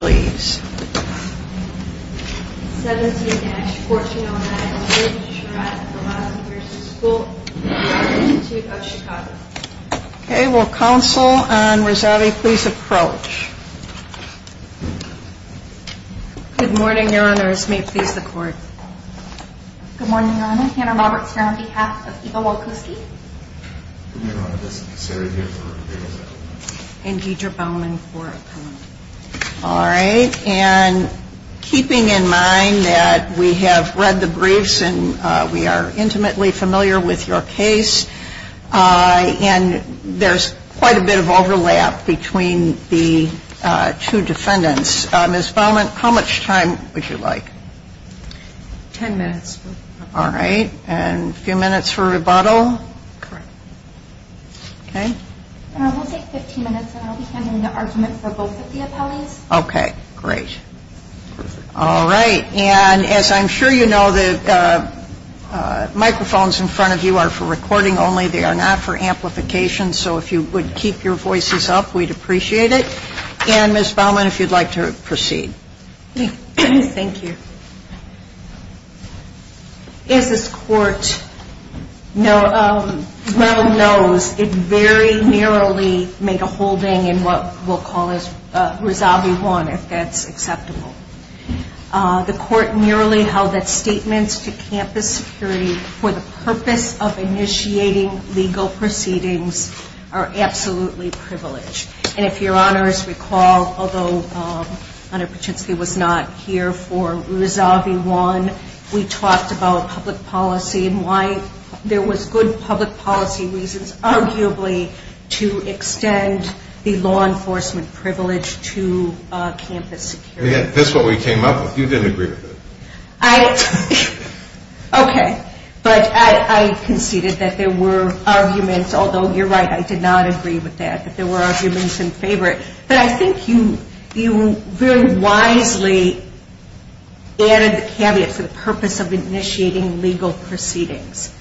17-4209 David Sherratt, the last years of school, the Art Institute of Chicago Okay, will counsel and Razavi please approach? Good morning, your honors. May it please the court? Good morning, your honor. Hannah Roberts here on behalf of Iva Walkoski Good morning, your honor. This is Sarah here for the case. And Deidre Baumann for appellant. Alright, and keeping in mind that we have read the briefs and we are intimately familiar with your case and there's quite a bit of overlap between the two defendants. Ms. Baumann, how much time would you like? Ten minutes. Alright, and a few minutes for rebuttal? Correct. Okay. We'll take 15 minutes and I'll be handing the argument for both of the appellees. Okay, great. Alright, and as I'm sure you know, the microphones in front of you are for recording only. They are not for amplification, so if you would keep your voices up, we'd appreciate it. And Ms. Baumann, if you'd like to proceed. Thank you. As this court well knows, it very narrowly made a holding in what we'll call Resolve 1, if that's acceptable. The court narrowly held that statements to campus security for the purpose of initiating legal proceedings are absolutely privileged. And if your Honors recall, although Honor Paczynski was not here for Resolve 1, we talked about public policy and why there was good public policy reasons, arguably, to extend the law enforcement privilege to campus security. That's what we came up with. You didn't agree with it. Okay, but I conceded that there were arguments, although you're right, I did not agree with that, that there were arguments in favor of it. But I think you very wisely added the caveat for the purpose of initiating legal proceedings,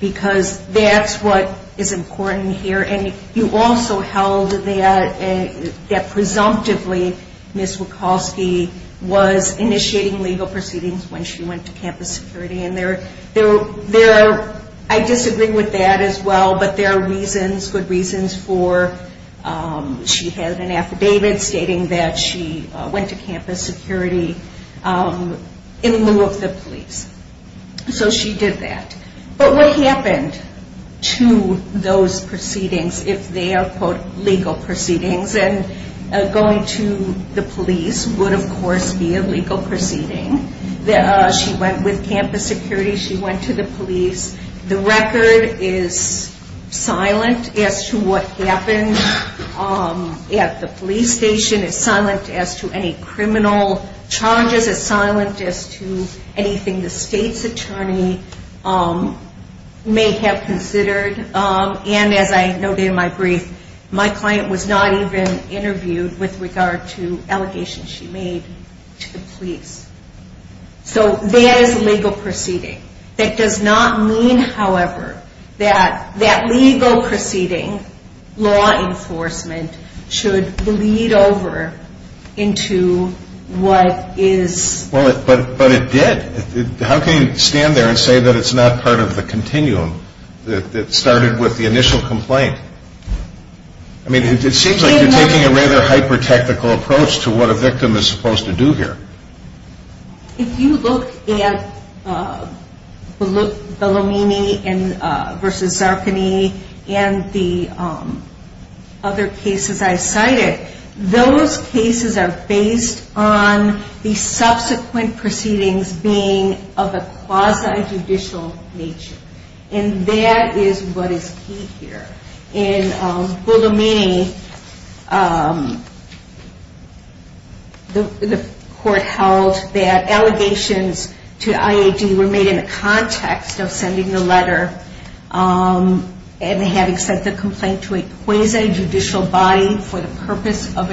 because that's what is important here. And you also held that presumptively Ms. Wachowski was initiating legal proceedings when she went to campus security. I disagree with that as well, but there are reasons, good reasons, for she had an affidavit stating that she went to campus security in lieu of the police. So she did that. But what happened to those proceedings if they are, quote, legal proceedings? And going to the police would, of course, be a legal proceeding. She went with campus security. She went to the police. The record is silent as to what happened at the police station. It's silent as to any criminal charges. It's silent as to anything the state's attorney may have considered. And as I noted in my brief, my client was not even interviewed with regard to allegations she made to the police. So that is a legal proceeding. That does not mean, however, that that legal proceeding, law enforcement, should bleed over into what is... But it did. How can you stand there and say that it's not part of the continuum that started with the initial complaint? I mean, it seems like you're taking a rather hyper-technical approach to what a victim is supposed to do here. If you look at Bellomini v. Zarkany and the other cases I cited, those cases are based on the subsequent proceedings being of a quasi-judicial nature. And that is what is key here. In Bellomini, the court held that allegations to IAD were made in the context of sending the letter and having sent the complaint to a quasi-judicial body for the purpose of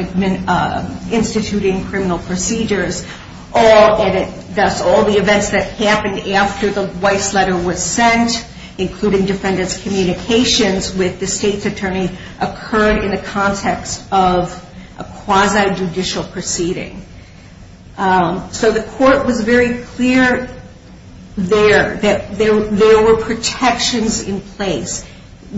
instituting criminal procedures. Thus, all the events that happened after the Weiss letter was sent, including defendants' communications with the state's attorney, occurred in the context of a quasi-judicial proceeding. So the court was very clear there that there were protections in place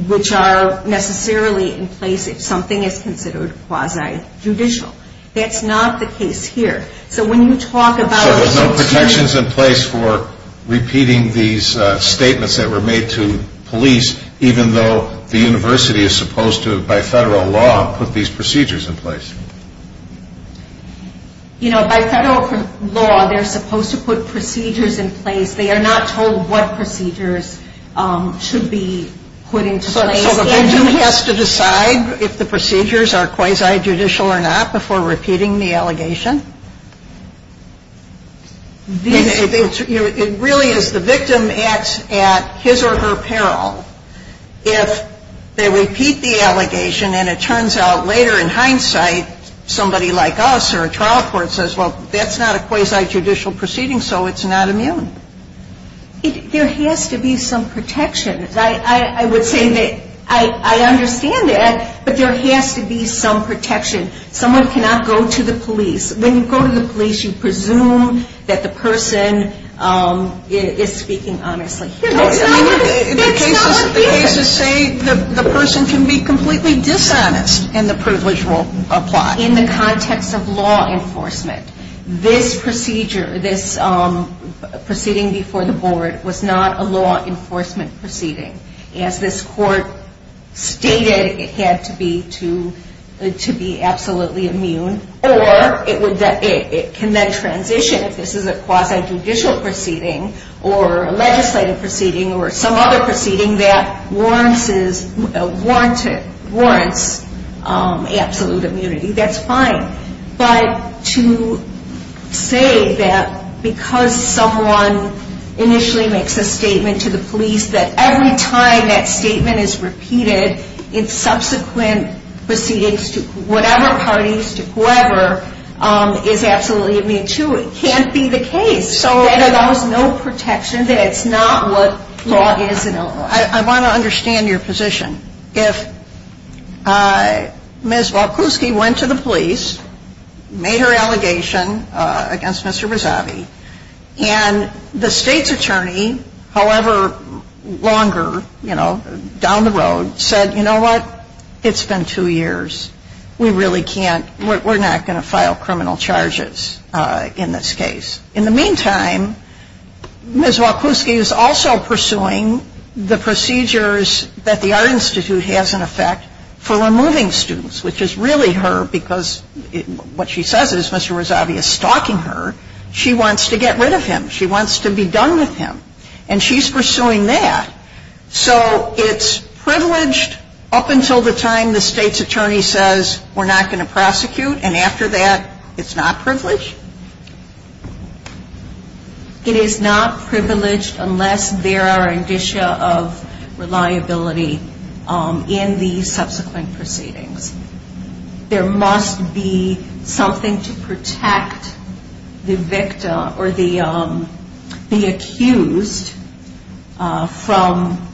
which are necessarily in place if something is considered quasi-judicial. That's not the case here. So when you talk about... ...even though the university is supposed to, by federal law, put these procedures in place? You know, by federal law, they're supposed to put procedures in place. They are not told what procedures should be put into place. So the victim has to decide if the procedures are quasi-judicial or not before repeating the allegation? It really is the victim at his or her peril if they repeat the allegation and it turns out later, in hindsight, somebody like us or a trial court says, well, that's not a quasi-judicial proceeding, so it's not immune. There has to be some protection. I would say that I understand that, but there has to be some protection. Someone cannot go to the police. When you go to the police, you presume that the person is speaking honestly. It's not what the cases say. The person can be completely dishonest and the privilege will apply. In the context of law enforcement, this procedure, this proceeding before the board, was not a law enforcement proceeding. As this court stated, it had to be absolutely immune or it can then transition if this is a quasi-judicial proceeding or a legislative proceeding or some other proceeding that warrants absolute immunity. That's fine. But to say that because someone initially makes a statement to the police, that every time that statement is repeated in subsequent proceedings to whatever parties, to whoever, is absolutely immune, too. It can't be the case that allows no protection, that it's not what law is in Illinois. I want to understand your position. If Ms. Volkowski went to the police, made her allegation against Mr. Visavi, and the State's attorney, however longer, you know, down the road, said, you know what, it's been two years. We really can't, we're not going to file criminal charges in this case. In the meantime, Ms. Volkowski is also pursuing the procedures that the Art Institute has in effect for removing students, which is really her, because what she says is Mr. Visavi is stalking her. She wants to get rid of him. She wants to be done with him. And she's pursuing that. So it's privileged up until the time the State's attorney says we're not going to prosecute, and after that, it's not privileged? It is not privileged unless there are indicia of reliability in the subsequent proceedings. There must be something to protect the victim or the accused from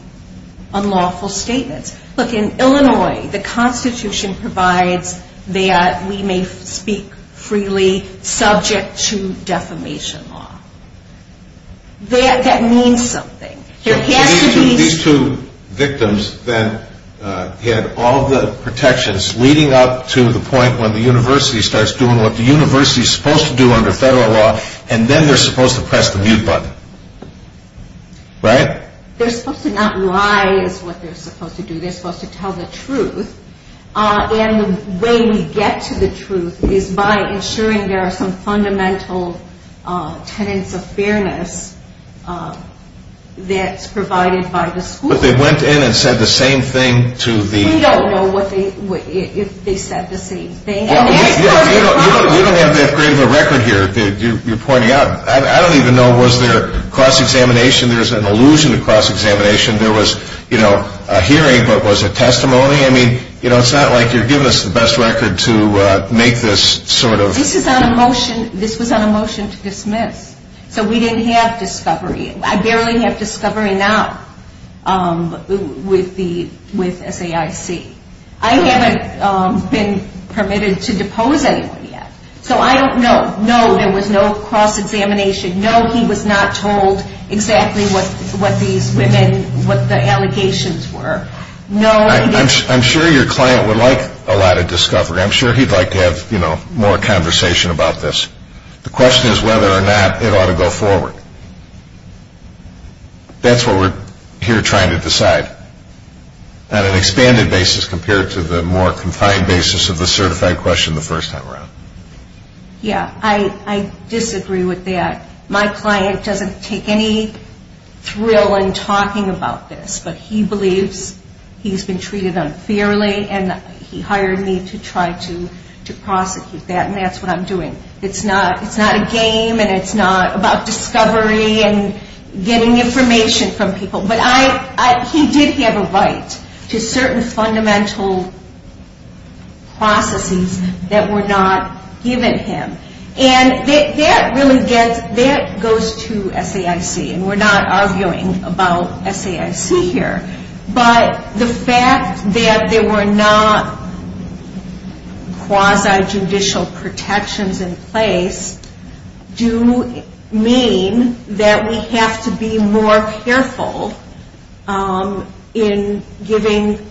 unlawful statements. Look, in Illinois, the Constitution provides that we may speak freely subject to defamation law. That means something. These two victims then had all the protections leading up to the point when the university starts doing what the university is supposed to do under federal law, and then they're supposed to press the mute button, right? They're supposed to not lie is what they're supposed to do. They're supposed to tell the truth. And the way we get to the truth is by ensuring there are some fundamental tenets of fairness that's provided by the school. But they went in and said the same thing to the... We don't know if they said the same thing. You don't have that great of a record here that you're pointing out. I don't even know, was there cross-examination? There's an allusion to cross-examination. There was a hearing, but was it testimony? I mean, it's not like you're giving us the best record to make this sort of... This was on a motion to dismiss. So we didn't have discovery. I barely have discovery now with SAIC. I haven't been permitted to depose anyone yet. So I don't know. No, there was no cross-examination. No, he was not told exactly what these women, what the allegations were. No, he didn't... I'm sure your client would like a lot of discovery. I'm sure he'd like to have more conversation about this. The question is whether or not it ought to go forward. That's what we're here trying to decide on an expanded basis compared to the more confined basis of the certified question the first time around. Yeah, I disagree with that. My client doesn't take any thrill in talking about this, but he believes he's been treated unfairly, and he hired me to try to prosecute that, and that's what I'm doing. It's not a game, and it's not about discovery and getting information from people. But he did have a right to certain fundamental processes that were not given him. And that really goes to SAIC, and we're not arguing about SAIC here. But the fact that there were not quasi-judicial protections in place do mean that we have to be more careful in giving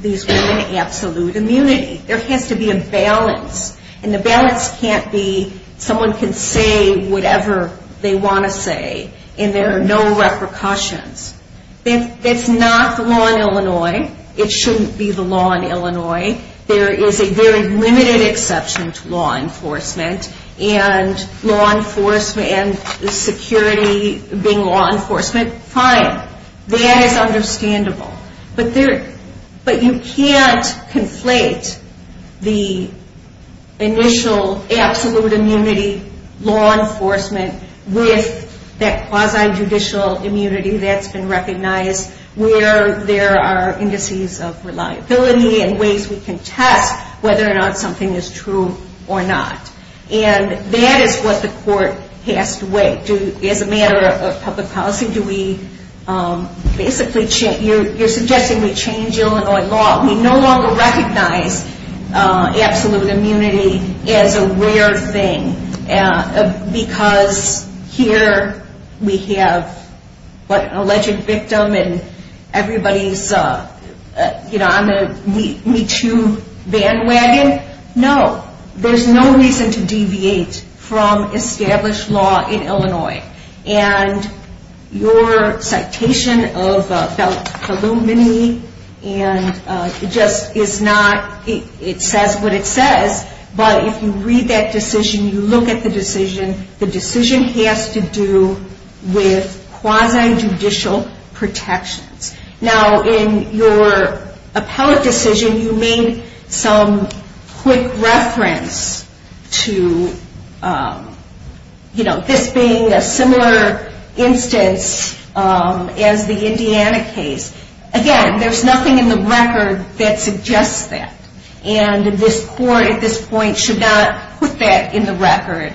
these women absolute immunity. There has to be a balance, and the balance can't be someone can say whatever they want to say, and there are no repercussions. That's not the law in Illinois. It shouldn't be the law in Illinois. There is a very limited exception to law enforcement, and law enforcement and security being law enforcement, fine. That is understandable. But you can't conflate the initial absolute immunity law enforcement with that quasi-judicial immunity that's been recognized where there are indices of reliability and ways we can test whether or not something is true or not. And that is what the court passed away. As a matter of public policy, you're suggesting we change Illinois law. We no longer recognize absolute immunity as a rare thing because here we have an alleged victim, and everybody's on the Me Too bandwagon. No, there's no reason to deviate from established law in Illinois. And your citation of Belt-Halloumi, and it just is not, it says what it says, but if you read that decision, you look at the decision, the decision has to do with quasi-judicial protections. Now, in your appellate decision, you made some quick reference to, you know, this being a similar instance as the Indiana case. Again, there's nothing in the record that suggests that. And this court at this point should not put that in the record.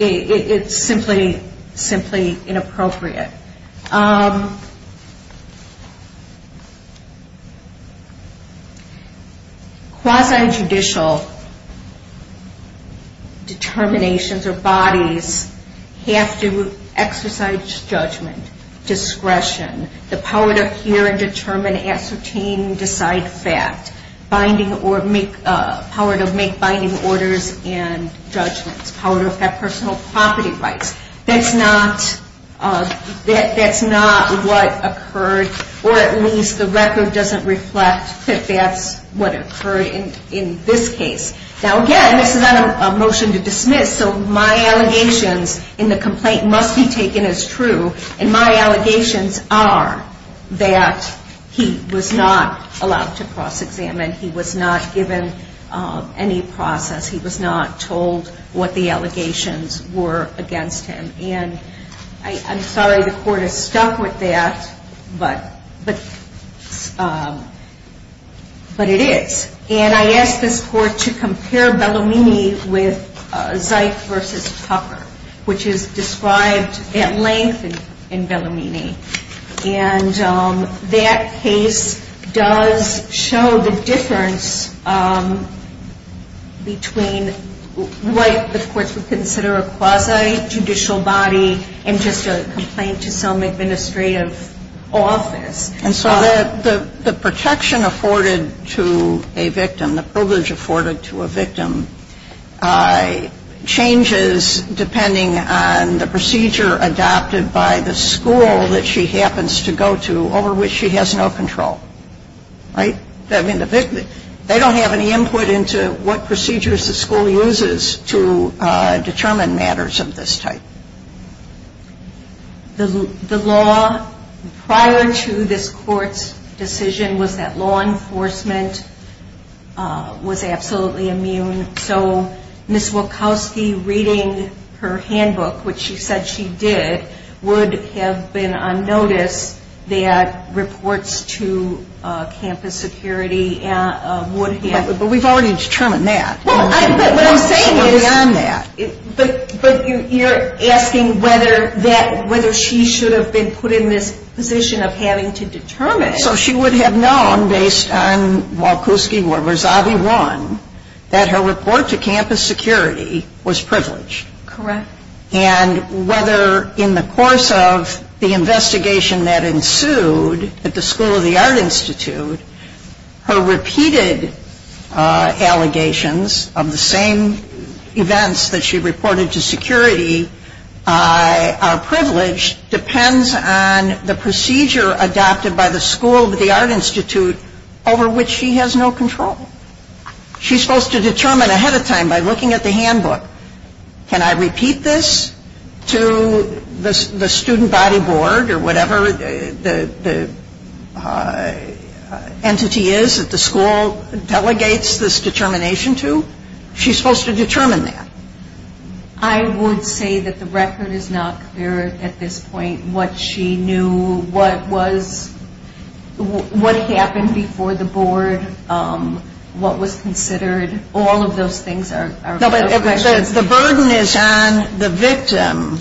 It's simply, simply inappropriate. Quasi-judicial determinations or bodies have to exercise judgment, discretion, the power to hear and determine, ascertain, decide, fact. Binding or make, power to make binding orders and judgments. Power to have personal property rights. That's not, that's not what occurred, or at least the record doesn't reflect that that's what occurred in this case. Now, again, this is not a motion to dismiss, so my allegations in the complaint must be taken as true. And my allegations are that he was not allowed to cross-examine. He was not given any process. He was not told what the allegations were against him. And I'm sorry the court is stuck with that, but it is. And I ask this court to compare Bellomini with Zeit v. Tucker, which is described at length in Bellomini. And that case does show the difference between what the courts would consider a quasi-judicial body and just a complaint to some administrative office. And so the protection afforded to a victim, the privilege afforded to a victim, changes depending on the procedure adopted by the school that she happens to go to over which she has no control. Right? I mean, they don't have any input into what procedures the school uses to determine matters of this type. The law prior to this court's decision was that law enforcement was absolutely immune. So Ms. Wachowski reading her handbook, which she said she did, would have been on notice that reports to campus security would have... But we've already determined that. But what I'm saying is... Beyond that. But you're asking whether she should have been put in this position of having to determine... So she would have known, based on Wachowski v. Zavi 1, that her report to campus security was privileged. Correct. And whether in the course of the investigation that ensued at the School of the Art Institute, her repeated allegations of the same events that she reported to security are privileged depends on the procedure adopted by the School of the Art Institute over which she has no control. She's supposed to determine ahead of time by looking at the handbook, Can I repeat this to the student body board or whatever the entity is that the school delegates this determination to? She's supposed to determine that. I would say that the record is not clear at this point. What she knew, what happened before the board, what was considered. All of those things are questions. The burden is on the victim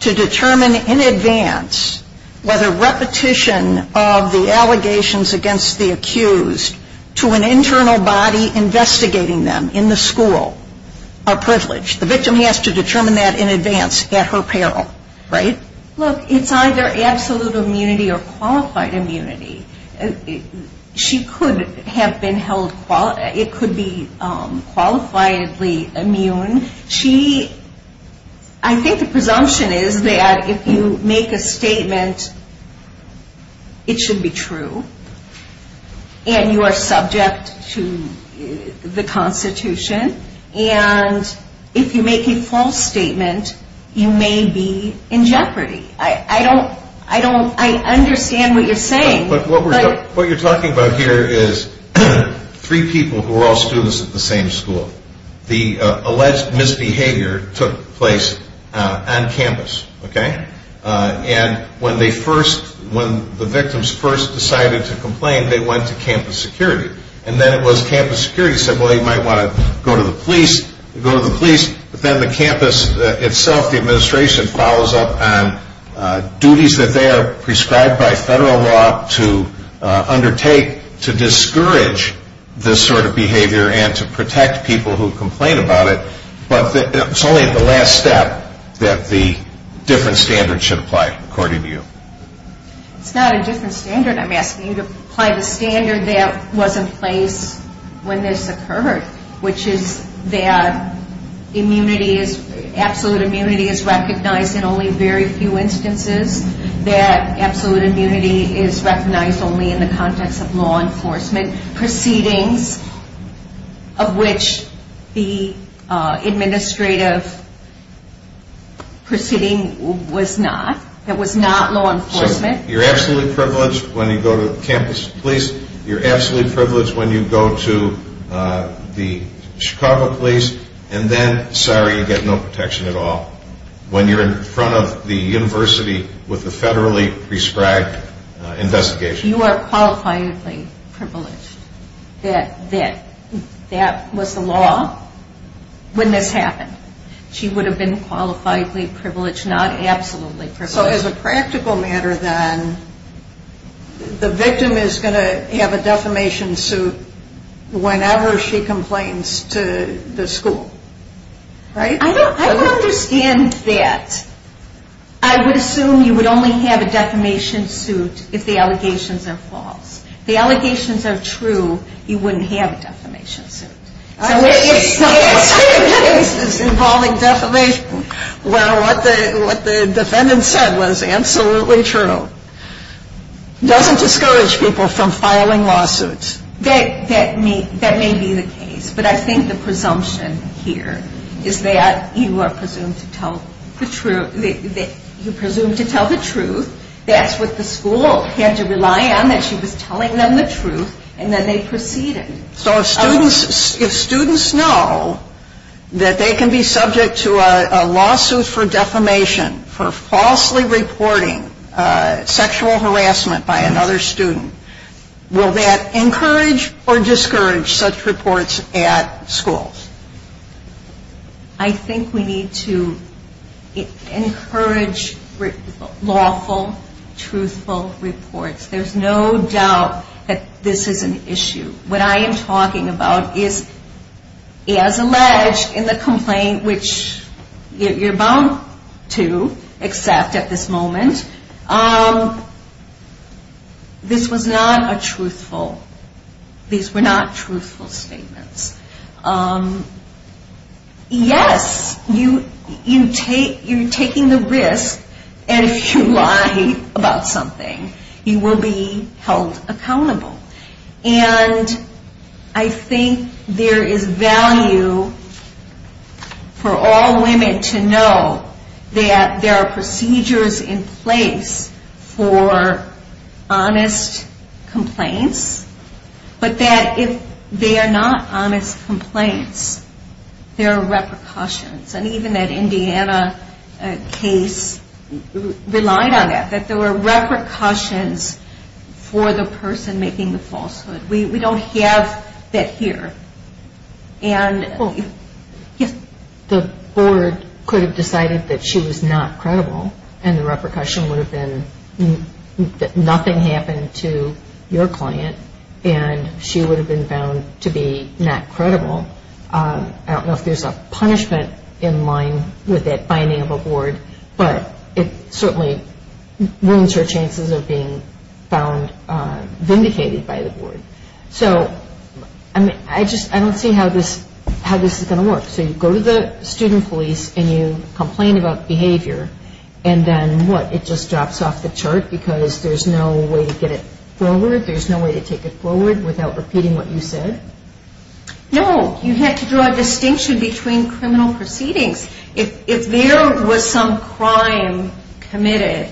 to determine in advance whether repetition of the allegations against the accused to an internal body investigating them in the school are privileged. The victim has to determine that in advance at her peril. Right? Look, it's either absolute immunity or qualified immunity. She could have been held, it could be qualifiedly immune. She, I think the presumption is that if you make a statement, it should be true. And you are subject to the Constitution. And if you make a false statement, you may be in jeopardy. I don't, I don't, I understand what you're saying. What you're talking about here is three people who are all students at the same school. The alleged misbehavior took place on campus. Okay. And when they first, when the victims first decided to complain, they went to campus security. And then it was campus security said, well, you might want to go to the police, go to the police. But then the campus itself, the administration, follows up on duties that they are prescribed by federal law to undertake to discourage this sort of behavior and to protect people who complain about it. But it's only at the last step that the different standards should apply, according to you. It's not a different standard. I'm asking you to apply the standard that was in place when this occurred, which is that immunity is, absolute immunity is recognized in only very few instances. That absolute immunity is recognized only in the context of law enforcement proceedings, of which the administrative proceeding was not. It was not law enforcement. So you're absolutely privileged when you go to campus police. You're absolutely privileged when you go to the Chicago police. And then, sorry, you get no protection at all when you're in front of the university with the federally prescribed investigation. You are qualifiably privileged that that was the law when this happened. She would have been qualifiably privileged, not absolutely privileged. So as a practical matter then, the victim is going to have a defamation suit whenever she complains to the school, right? I don't understand that. I would assume you would only have a defamation suit if the allegations are false. If the allegations are true, you wouldn't have a defamation suit. It's involving defamation. Well, what the defendant said was absolutely true. It doesn't discourage people from filing lawsuits. That may be the case. But I think the presumption here is that you are presumed to tell the truth. You're presumed to tell the truth. That's what the school had to rely on, that she was telling them the truth, and then they proceeded. So if students know that they can be subject to a lawsuit for defamation for falsely reporting sexual harassment by another student, will that encourage or discourage such reports at schools? I think we need to encourage lawful, truthful reports. There's no doubt that this is an issue. What I am talking about is, as alleged in the complaint, which you're bound to accept at this moment, this was not a truthful, these were not truthful statements. Yes, you're taking the risk, and if you lie about something, you will be held accountable. And I think there is value for all women to know that there are procedures in place for honest complaints, but that if they are not honest complaints, there are repercussions. And even that Indiana case relied on that, that there were repercussions for the person making the falsehood. We don't have that here. The board could have decided that she was not credible, and the repercussion would have been that nothing happened to your client, and she would have been found to be not credible. I don't know if there's a punishment in line with that finding of a board, but it certainly ruins her chances of being found vindicated by the board. So I don't see how this is going to work. So you go to the student police and you complain about behavior, and then what, it just drops off the chart because there's no way to get it forward, there's no way to take it forward without repeating what you said? No, you have to draw a distinction between criminal proceedings. If there was some crime committed,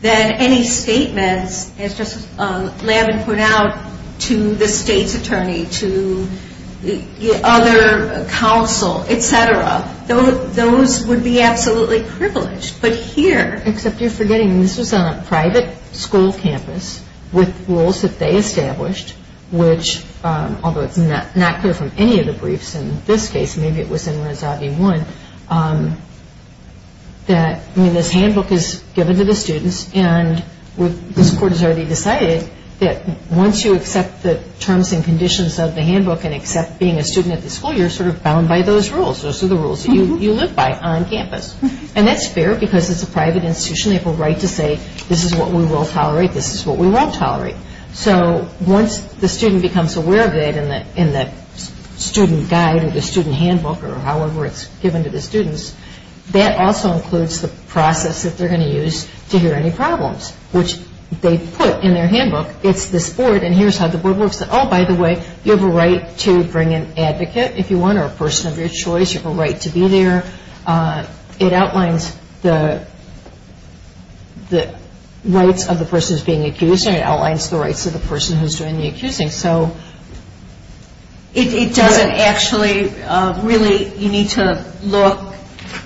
then any statements, as Justice Lavin put out, to the state's attorney, to other counsel, et cetera, those would be absolutely privileged. But here... Except you're forgetting this was on a private school campus with rules that they established, which although it's not clear from any of the briefs in this case, maybe it was in Rezavi 1, that this handbook is given to the students and this court has already decided that once you accept the terms and conditions of the handbook and accept being a student at the school, you're sort of bound by those rules, those are the rules that you live by on campus. And that's fair because it's a private institution, they have a right to say this is what we will tolerate, this is what we won't tolerate. So once the student becomes aware of it in the student guide or the student handbook or however it's given to the students, that also includes the process that they're going to use to hear any problems, which they put in their handbook. It's this board and here's how the board works. Oh, by the way, you have a right to bring an advocate if you want or a person of your choice, you have a right to be there. It outlines the rights of the person who's being accused and it outlines the rights of the person who's doing the accusing. So it doesn't actually, really you need to look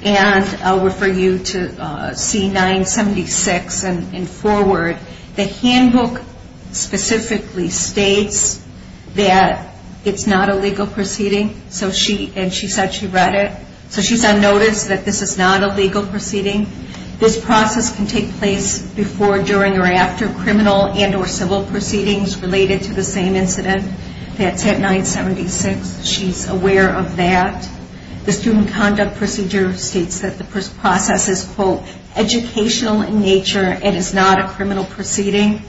and I'll refer you to C-976 and forward. The handbook specifically states that it's not a legal proceeding and she said she read it. So she's on notice that this is not a legal proceeding. This process can take place before, during or after criminal and or civil proceedings related to the same incident. That's at C-976. She's aware of that. The student conduct procedure states that the process is, quote, educational in nature and is not a criminal proceeding.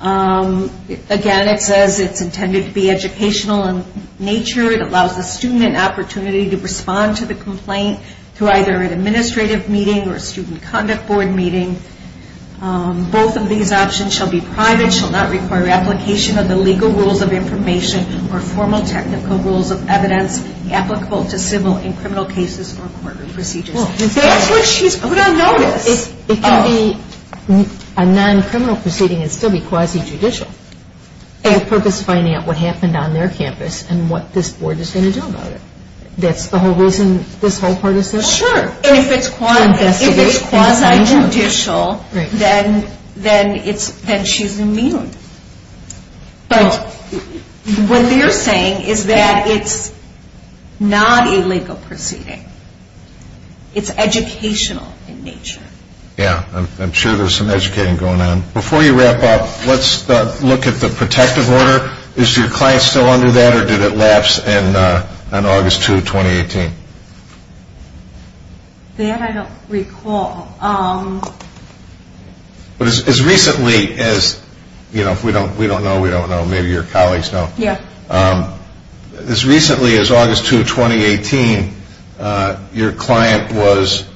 Again, it says it's intended to be educational in nature. It allows the student an opportunity to respond to the complaint through either an administrative meeting or a student conduct board meeting. Both of these options shall be private, shall not require application of the legal rules of information or formal technical rules of evidence applicable to civil and criminal cases or court procedures. That's what she's put on notice. It can be a non-criminal proceeding and still be quasi-judicial for the purpose of finding out what happened on their campus and what this board is going to do about it. That's the whole reason this whole part is there? Sure. If it's quasi-judicial, then she's immune. What they're saying is that it's not a legal proceeding. It's educational in nature. Yeah. I'm sure there's some educating going on. Before you wrap up, let's look at the protective order. Is your client still under that or did it lapse on August 2, 2018? That I don't recall. As recently as – we don't know, we don't know. Maybe your colleagues know. Yeah. As recently as August 2, 2018, your client was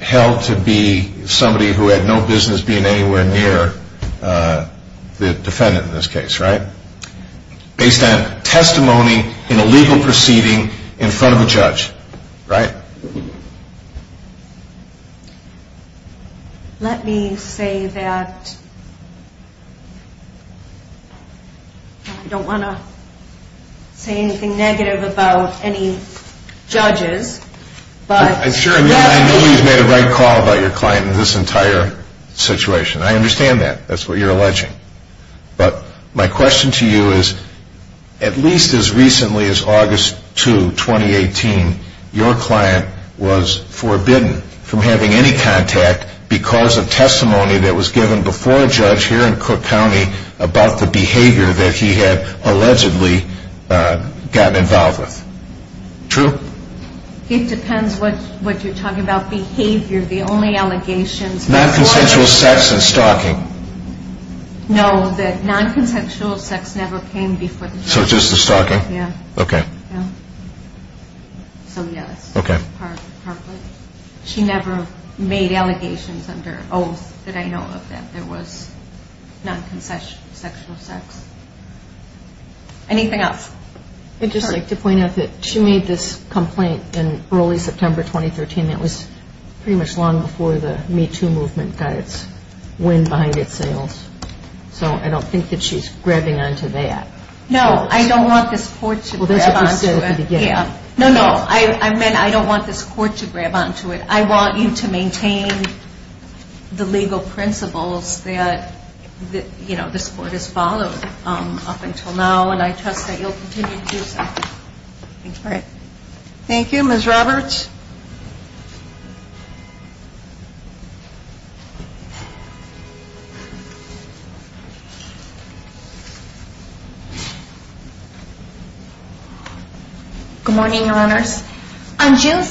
held to be somebody who had no business being anywhere near the defendant in this case, right? Based on testimony in a legal proceeding in front of a judge, right? Let me say that I don't want to say anything negative about any judges. I know you've made a right call about your client in this entire situation. I understand that. That's what you're alleging. But my question to you is, at least as recently as August 2, 2018, your client was forbidden from having any contact because of testimony that was given before a judge here in Cook County about the behavior that he had allegedly gotten involved with. True? It depends what you're talking about. Behavior, the only allegations – Non-consensual sex and stalking. No, the non-consensual sex never came before the judge. So just the stalking? Yeah. Okay. So yes. Okay. Partly. She never made allegations under oath that I know of that there was non-consensual sex. Anything else? I'd just like to point out that she made this complaint in early September 2013. That was pretty much long before the Me Too movement got its wind behind its sails. So I don't think that she's grabbing onto that. No, I don't want this court to grab onto it. Well, that's what you said at the beginning. Yeah. No, no. I meant I don't want this court to grab onto it. I want you to maintain the legal principles that this court has followed up until now, and I trust that you'll continue to do so. All right. Thank you. Ms. Roberts? Good morning, Your Honors. On June 1,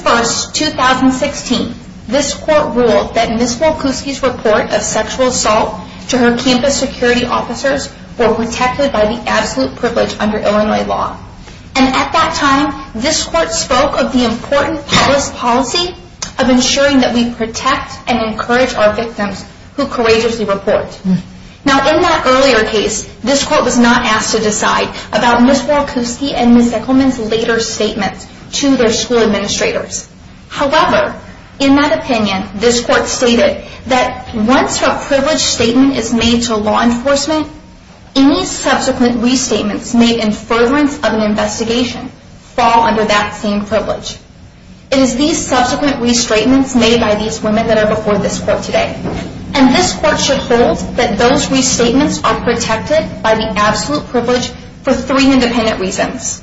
2016, this court ruled that Ms. Wolkowski's report of sexual assault to her campus security officers were protected by the absolute privilege under Illinois law. And at that time, this court spoke of the important public policy of ensuring that we protect and encourage our victims who courageously report. Now, in that earlier case, this court was not asked to decide about Ms. Wolkowski and Ms. Zickelman's later statements to their school administrators. However, in that opinion, this court stated that once a privilege statement is made to law enforcement, any subsequent restatements made in furtherance of an investigation fall under that same privilege. It is these subsequent restatements made by these women that are before this court today. And this court should hold that those restatements are protected by the absolute privilege for three independent reasons.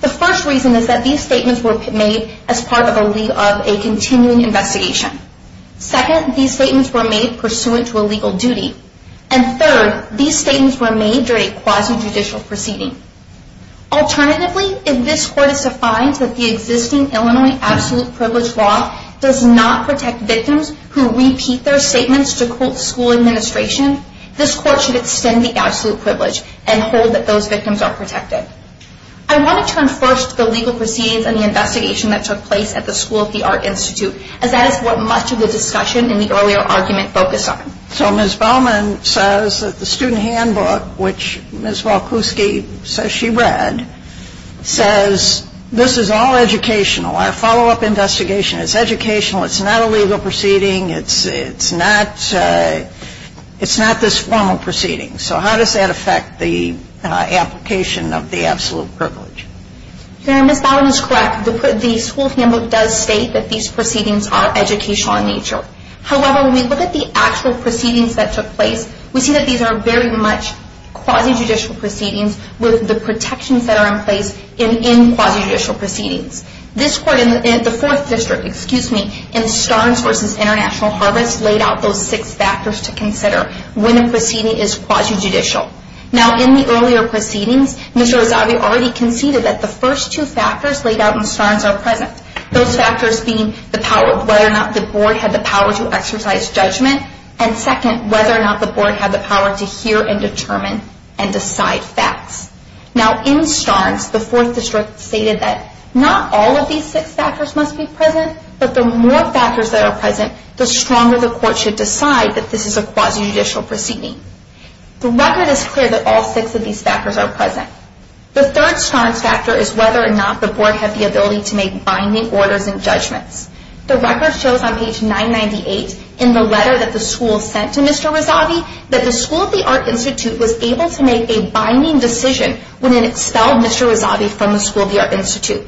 The first reason is that these statements were made as part of a continuing investigation. Second, these statements were made pursuant to a legal duty. And third, these statements were made during a quasi-judicial proceeding. Alternatively, if this court is to find that the existing Illinois absolute privilege law does not protect victims who repeat their statements to school administration, this court should extend the absolute privilege and hold that those victims are protected. I want to turn first to the legal proceedings and the investigation that took place at the School of the Art Institute, as that is what much of the discussion in the earlier argument focused on. So Ms. Bowman says that the student handbook, which Ms. Walkuski says she read, says this is all educational. Our follow-up investigation is educational. It's not a legal proceeding. It's not this formal proceeding. So how does that affect the application of the absolute privilege? Ms. Bowman is correct. However, when we look at the actual proceedings that took place, we see that these are very much quasi-judicial proceedings with the protections that are in place in quasi-judicial proceedings. This court in the Fourth District, excuse me, in Starnes v. International Harvest, laid out those six factors to consider when a proceeding is quasi-judicial. Now, in the earlier proceedings, Mr. Rozavi already conceded that the first two factors laid out in Starnes are present, those factors being the power of whether or not the board had the power to exercise judgment, and second, whether or not the board had the power to hear and determine and decide facts. Now, in Starnes, the Fourth District stated that not all of these six factors must be present, but the more factors that are present, the stronger the court should decide that this is a quasi-judicial proceeding. The record is clear that all six of these factors are present. The third Starnes factor is whether or not the board had the ability to make binding orders and judgments. The record shows on page 998 in the letter that the school sent to Mr. Rozavi that the School of the Art Institute was able to make a binding decision when it expelled Mr. Rozavi from the School of the Art Institute.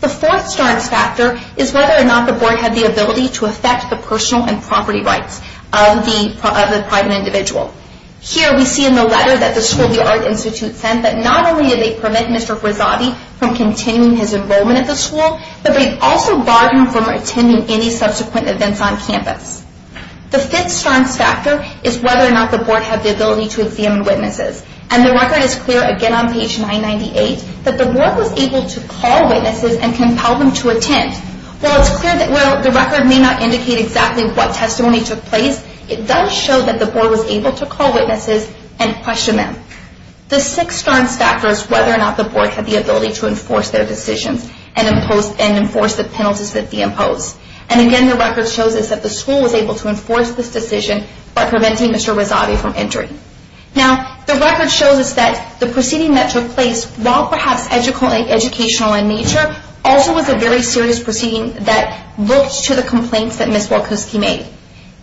The fourth Starnes factor is whether or not the board had the ability to affect the personal and property rights of the private individual. Here we see in the letter that the School of the Art Institute sent that not only did they permit Mr. Rozavi from continuing his enrollment at the school, but they also barred him from attending any subsequent events on campus. The fifth Starnes factor is whether or not the board had the ability to examine witnesses, and the record is clear again on page 998 that the board was able to call witnesses and compel them to attend. While it's clear that the record may not indicate exactly what testimony took place, it does show that the board was able to call witnesses and question them. The sixth Starnes factor is whether or not the board had the ability to enforce their decisions and enforce the penalties that they imposed. And again, the record shows us that the school was able to enforce this decision by preventing Mr. Rozavi from entering. Now, the record shows us that the proceeding that took place, while perhaps educational in nature, also was a very serious proceeding that looked to the complaints that Ms. Walkoski made.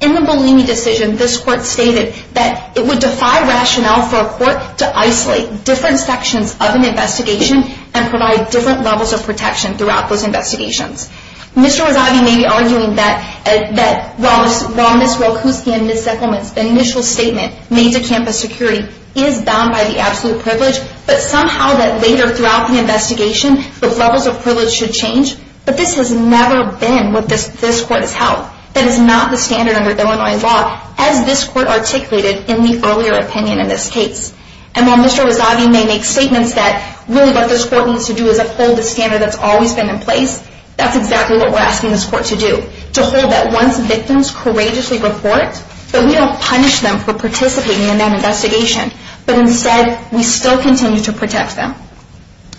In the Bellini decision, this court stated that it would defy rationale for a court to isolate different sections of an investigation and provide different levels of protection throughout those investigations. Mr. Rozavi may be arguing that while Ms. Walkoski and Ms. Zickelman's initial statement made to campus security is bound by the absolute privilege, but somehow that later throughout the investigation, the levels of privilege should change. But this has never been what this court has held. That is not the standard under Illinois law, as this court articulated in the earlier opinion in this case. And while Mr. Rozavi may make statements that really what this court needs to do is uphold the standard that's always been in place, that's exactly what we're asking this court to do, to hold that once victims courageously report, that we don't punish them for participating in that investigation, but instead, we still continue to protect them.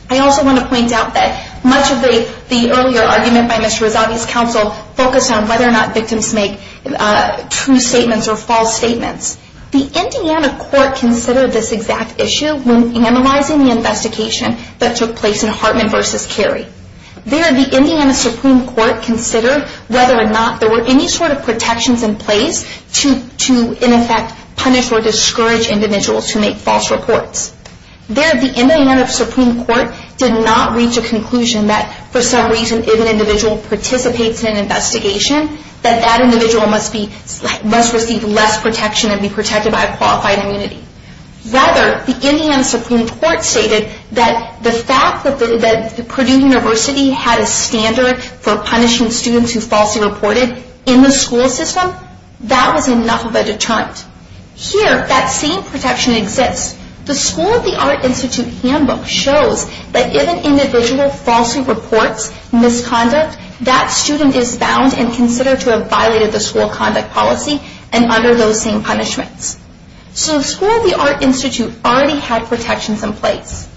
I also want to point out that much of the earlier argument by Mr. Rozavi's counsel focused on whether or not victims make true statements or false statements. The Indiana court considered this exact issue when analyzing the investigation that took place in Hartman v. Cary. There, the Indiana Supreme Court considered whether or not there were any sort of protections in place to, in effect, punish or discourage individuals who make false reports. There, the Indiana Supreme Court did not reach a conclusion that, for some reason, if an individual participates in an investigation, that that individual must receive less protection and be protected by a qualified immunity. Rather, the Indiana Supreme Court stated that the fact that Purdue University had a standard for punishing students who falsely reported in the school system, that was enough of a deterrent. Here, that same protection exists. The School of the Art Institute handbook shows that if an individual falsely reports misconduct, that student is bound and considered to have violated the school conduct policy and under those same punishments. So, the School of the Art Institute already had protections in place.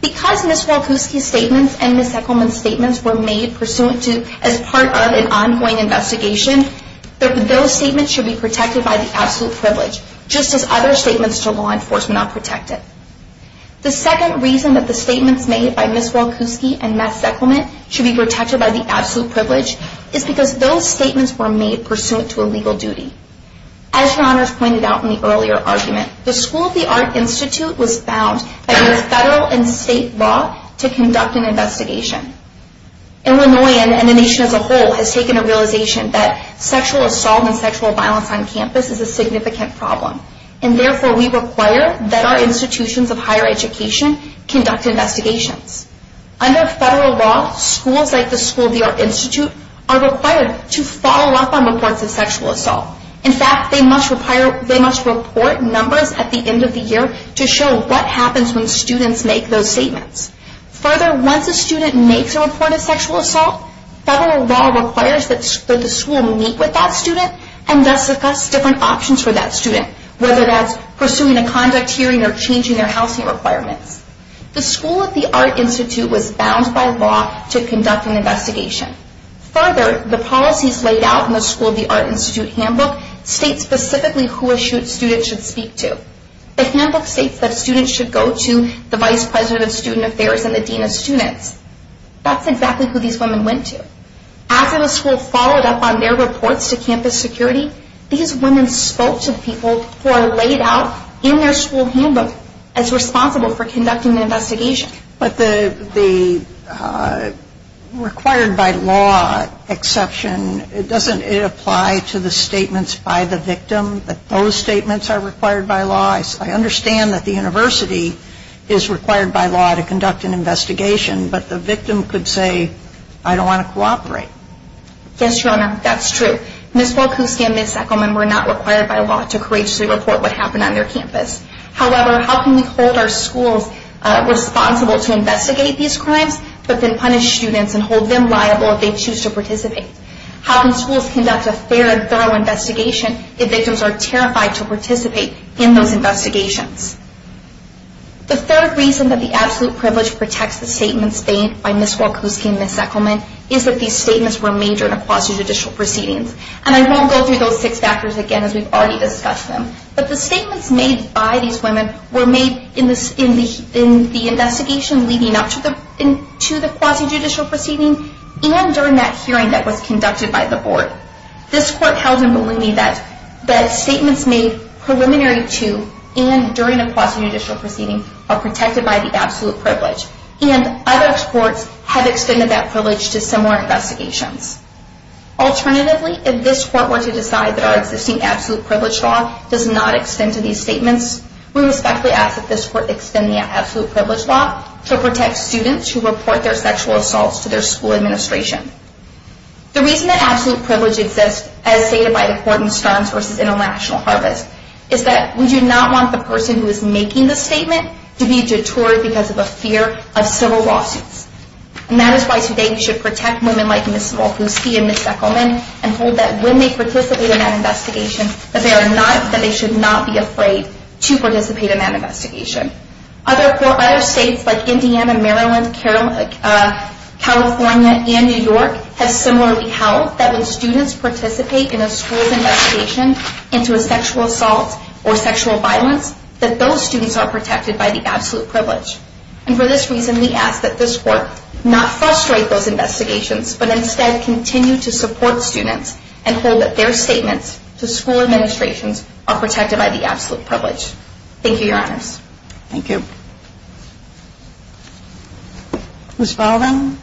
Because Ms. Walkoski's statements and Ms. Ekelman's statements were made pursuant to, as part of an ongoing investigation, that those statements should be protected by the absolute privilege, just as other statements to law enforcement are protected. The second reason that the statements made by Ms. Walkoski and Ms. Ekelman should be protected by the absolute privilege is because those statements were made pursuant to a legal duty. As your honors pointed out in the earlier argument, the School of the Art Institute was bound by both federal and state law to conduct an investigation. Illinois and the nation as a whole has taken a realization that sexual assault and sexual violence on campus is a significant problem and therefore we require that our institutions of higher education conduct investigations. Under federal law, schools like the School of the Art Institute are required to follow up on reports of sexual assault. In fact, they must report numbers at the end of the year to show what happens when students make those statements. Further, once a student makes a report of sexual assault, federal law requires that the school meet with that student and thus discuss different options for that student, whether that's pursuing a conduct hearing or changing their housing requirements. The School of the Art Institute was bound by law to conduct an investigation. Further, the policies laid out in the School of the Art Institute handbook state specifically who a student should speak to. The handbook states that students should go to the Vice President of Student Affairs and the Dean of Students. That's exactly who these women went to. After the school followed up on their reports to campus security, these women spoke to people who are laid out in their school handbook as responsible for conducting the investigation. But the required by law exception, doesn't it apply to the statements by the victim that those statements are required by law? I understand that the university is required by law to conduct an investigation, but the victim could say, I don't want to cooperate. Yes, Your Honor, that's true. Ms. Volkowski and Ms. Echelman were not required by law to courageously report what happened on their campus. However, how can we hold our schools responsible to investigate these crimes, but then punish students and hold them liable if they choose to participate? How can schools conduct a fair and thorough investigation if victims are terrified to participate in those investigations? The third reason that the absolute privilege protects the statements made by Ms. Volkowski and Ms. Echelman is that these statements were made during a quasi-judicial proceeding. And I won't go through those six factors again as we've already discussed them. But the statements made by these women were made in the investigation leading up to the quasi-judicial proceeding and during that hearing that was conducted by the board. This court held in Maloney that statements made preliminary to and during a quasi-judicial proceeding are protected by the absolute privilege. And other courts have extended that privilege to similar investigations. Alternatively, if this court were to decide that our existing absolute privilege law does not extend to these statements, we respectfully ask that this court extend the absolute privilege law to protect students who report their sexual assaults to their school administration. The reason that absolute privilege exists, as stated by the court in Stearns v. International Harvest, is that we do not want the person who is making the statement to be detoured because of a fear of civil lawsuits. And that is why today we should protect women like Ms. Volkowski and Ms. Echelman and hold that when they participate in that investigation, that they should not be afraid to participate in that investigation. Other states like Indiana, Maryland, California, and New York have similarly held that when students participate in a school's investigation into a sexual assault or sexual violence, that those students are protected by the absolute privilege. And for this reason, we ask that this court not frustrate those investigations, but instead continue to support students and hold that their statements to school administrations are protected by the absolute privilege. Thank you, Your Honors. Thank you. Ms. Baldwin?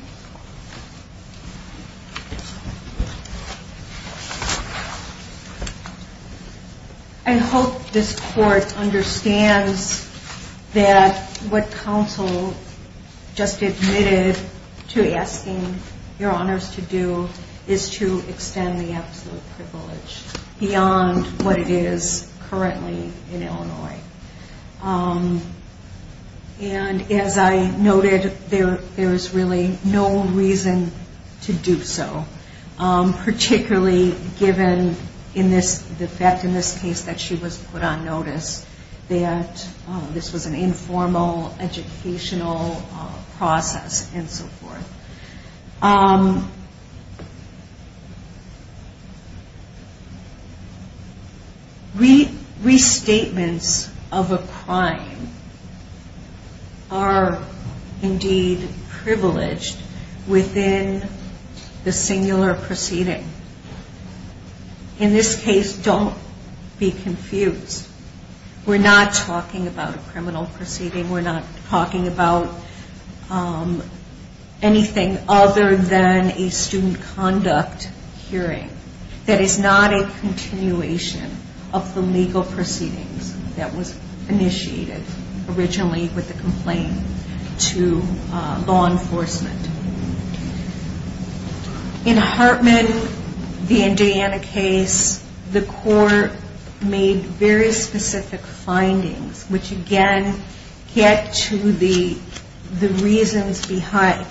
I hope this court understands that what counsel just admitted to asking Your Honors to do is to extend the absolute privilege beyond what it is currently in Illinois. And as I noted, there is really no reason to do so, particularly given the fact in this case that she was put on notice that this was an informal educational process and so forth. Restatements of a crime are indeed privileged within the singular proceeding. In this case, don't be confused. We're not talking about a criminal proceeding. We're not talking about anything other than a student conduct hearing. That is not a continuation of the legal proceedings that was initiated originally with the complaint to law enforcement. In Hartman, the Indiana case, the court made very specific findings, which again get to the reasons behind,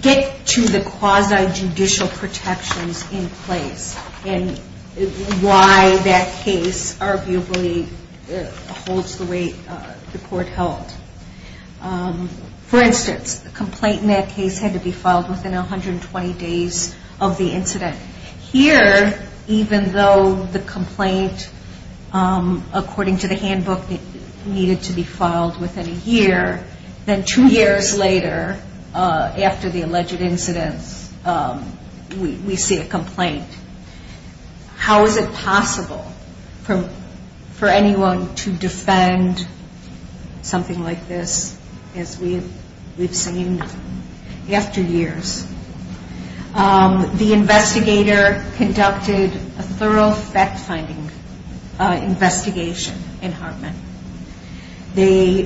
get to the quasi-judicial protections in place and why that case arguably holds the way the court held. For instance, the complaint in that case had to be filed within 120 days of the incident. Here, even though the complaint, according to the handbook, needed to be filed within a year, then two years later after the alleged incident, we see a complaint. How is it possible for anyone to defend something like this as we've seen after years? The investigator conducted a thorough fact-finding investigation in Hartman. They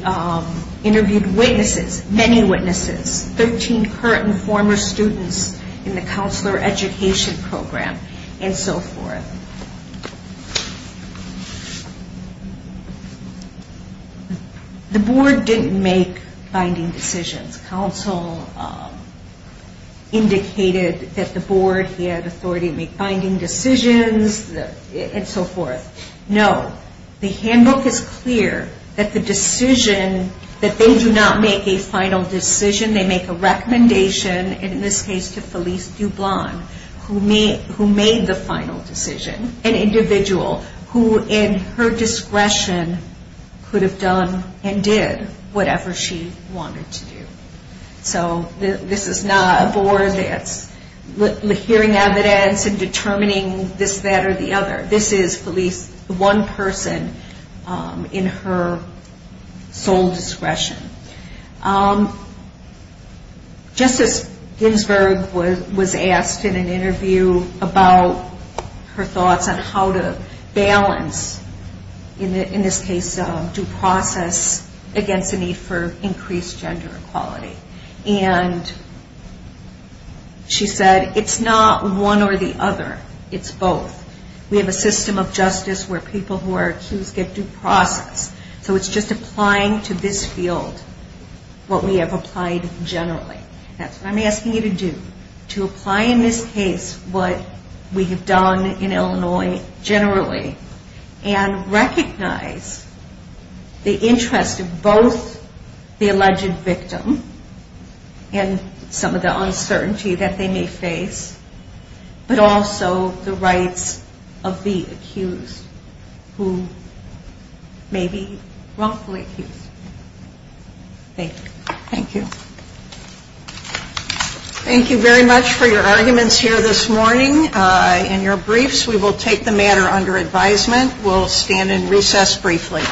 interviewed witnesses, many witnesses, 13 current and former students in the counselor education program and so forth. The board didn't make finding decisions. Counsel indicated that the board had authority to make finding decisions and so forth. No. The handbook is clear that the decision, that they do not make a final decision. They make a recommendation, and in this case to Felice Dublon, who made the final decision, an individual who in her discretion could have done and did whatever she wanted to do. So this is not a board that's hearing evidence and determining this, that, or the other. This is Felice, the one person in her sole discretion. Justice Ginsburg was asked in an interview about her thoughts on how to balance, in this case, due process against the need for increased gender equality. And she said, it's not one or the other, it's both. We have a system of justice where people who are accused get due process. So it's just applying to this field what we have applied generally. That's what I'm asking you to do, to apply in this case what we have done in Illinois generally and recognize the interest of both the alleged victim and some of the uncertainty that they may face, but also the rights of the accused who may be wrongfully accused. Thank you. Thank you. Thank you very much for your arguments here this morning and your briefs. We will take the matter under advisement. We'll stand in recess briefly.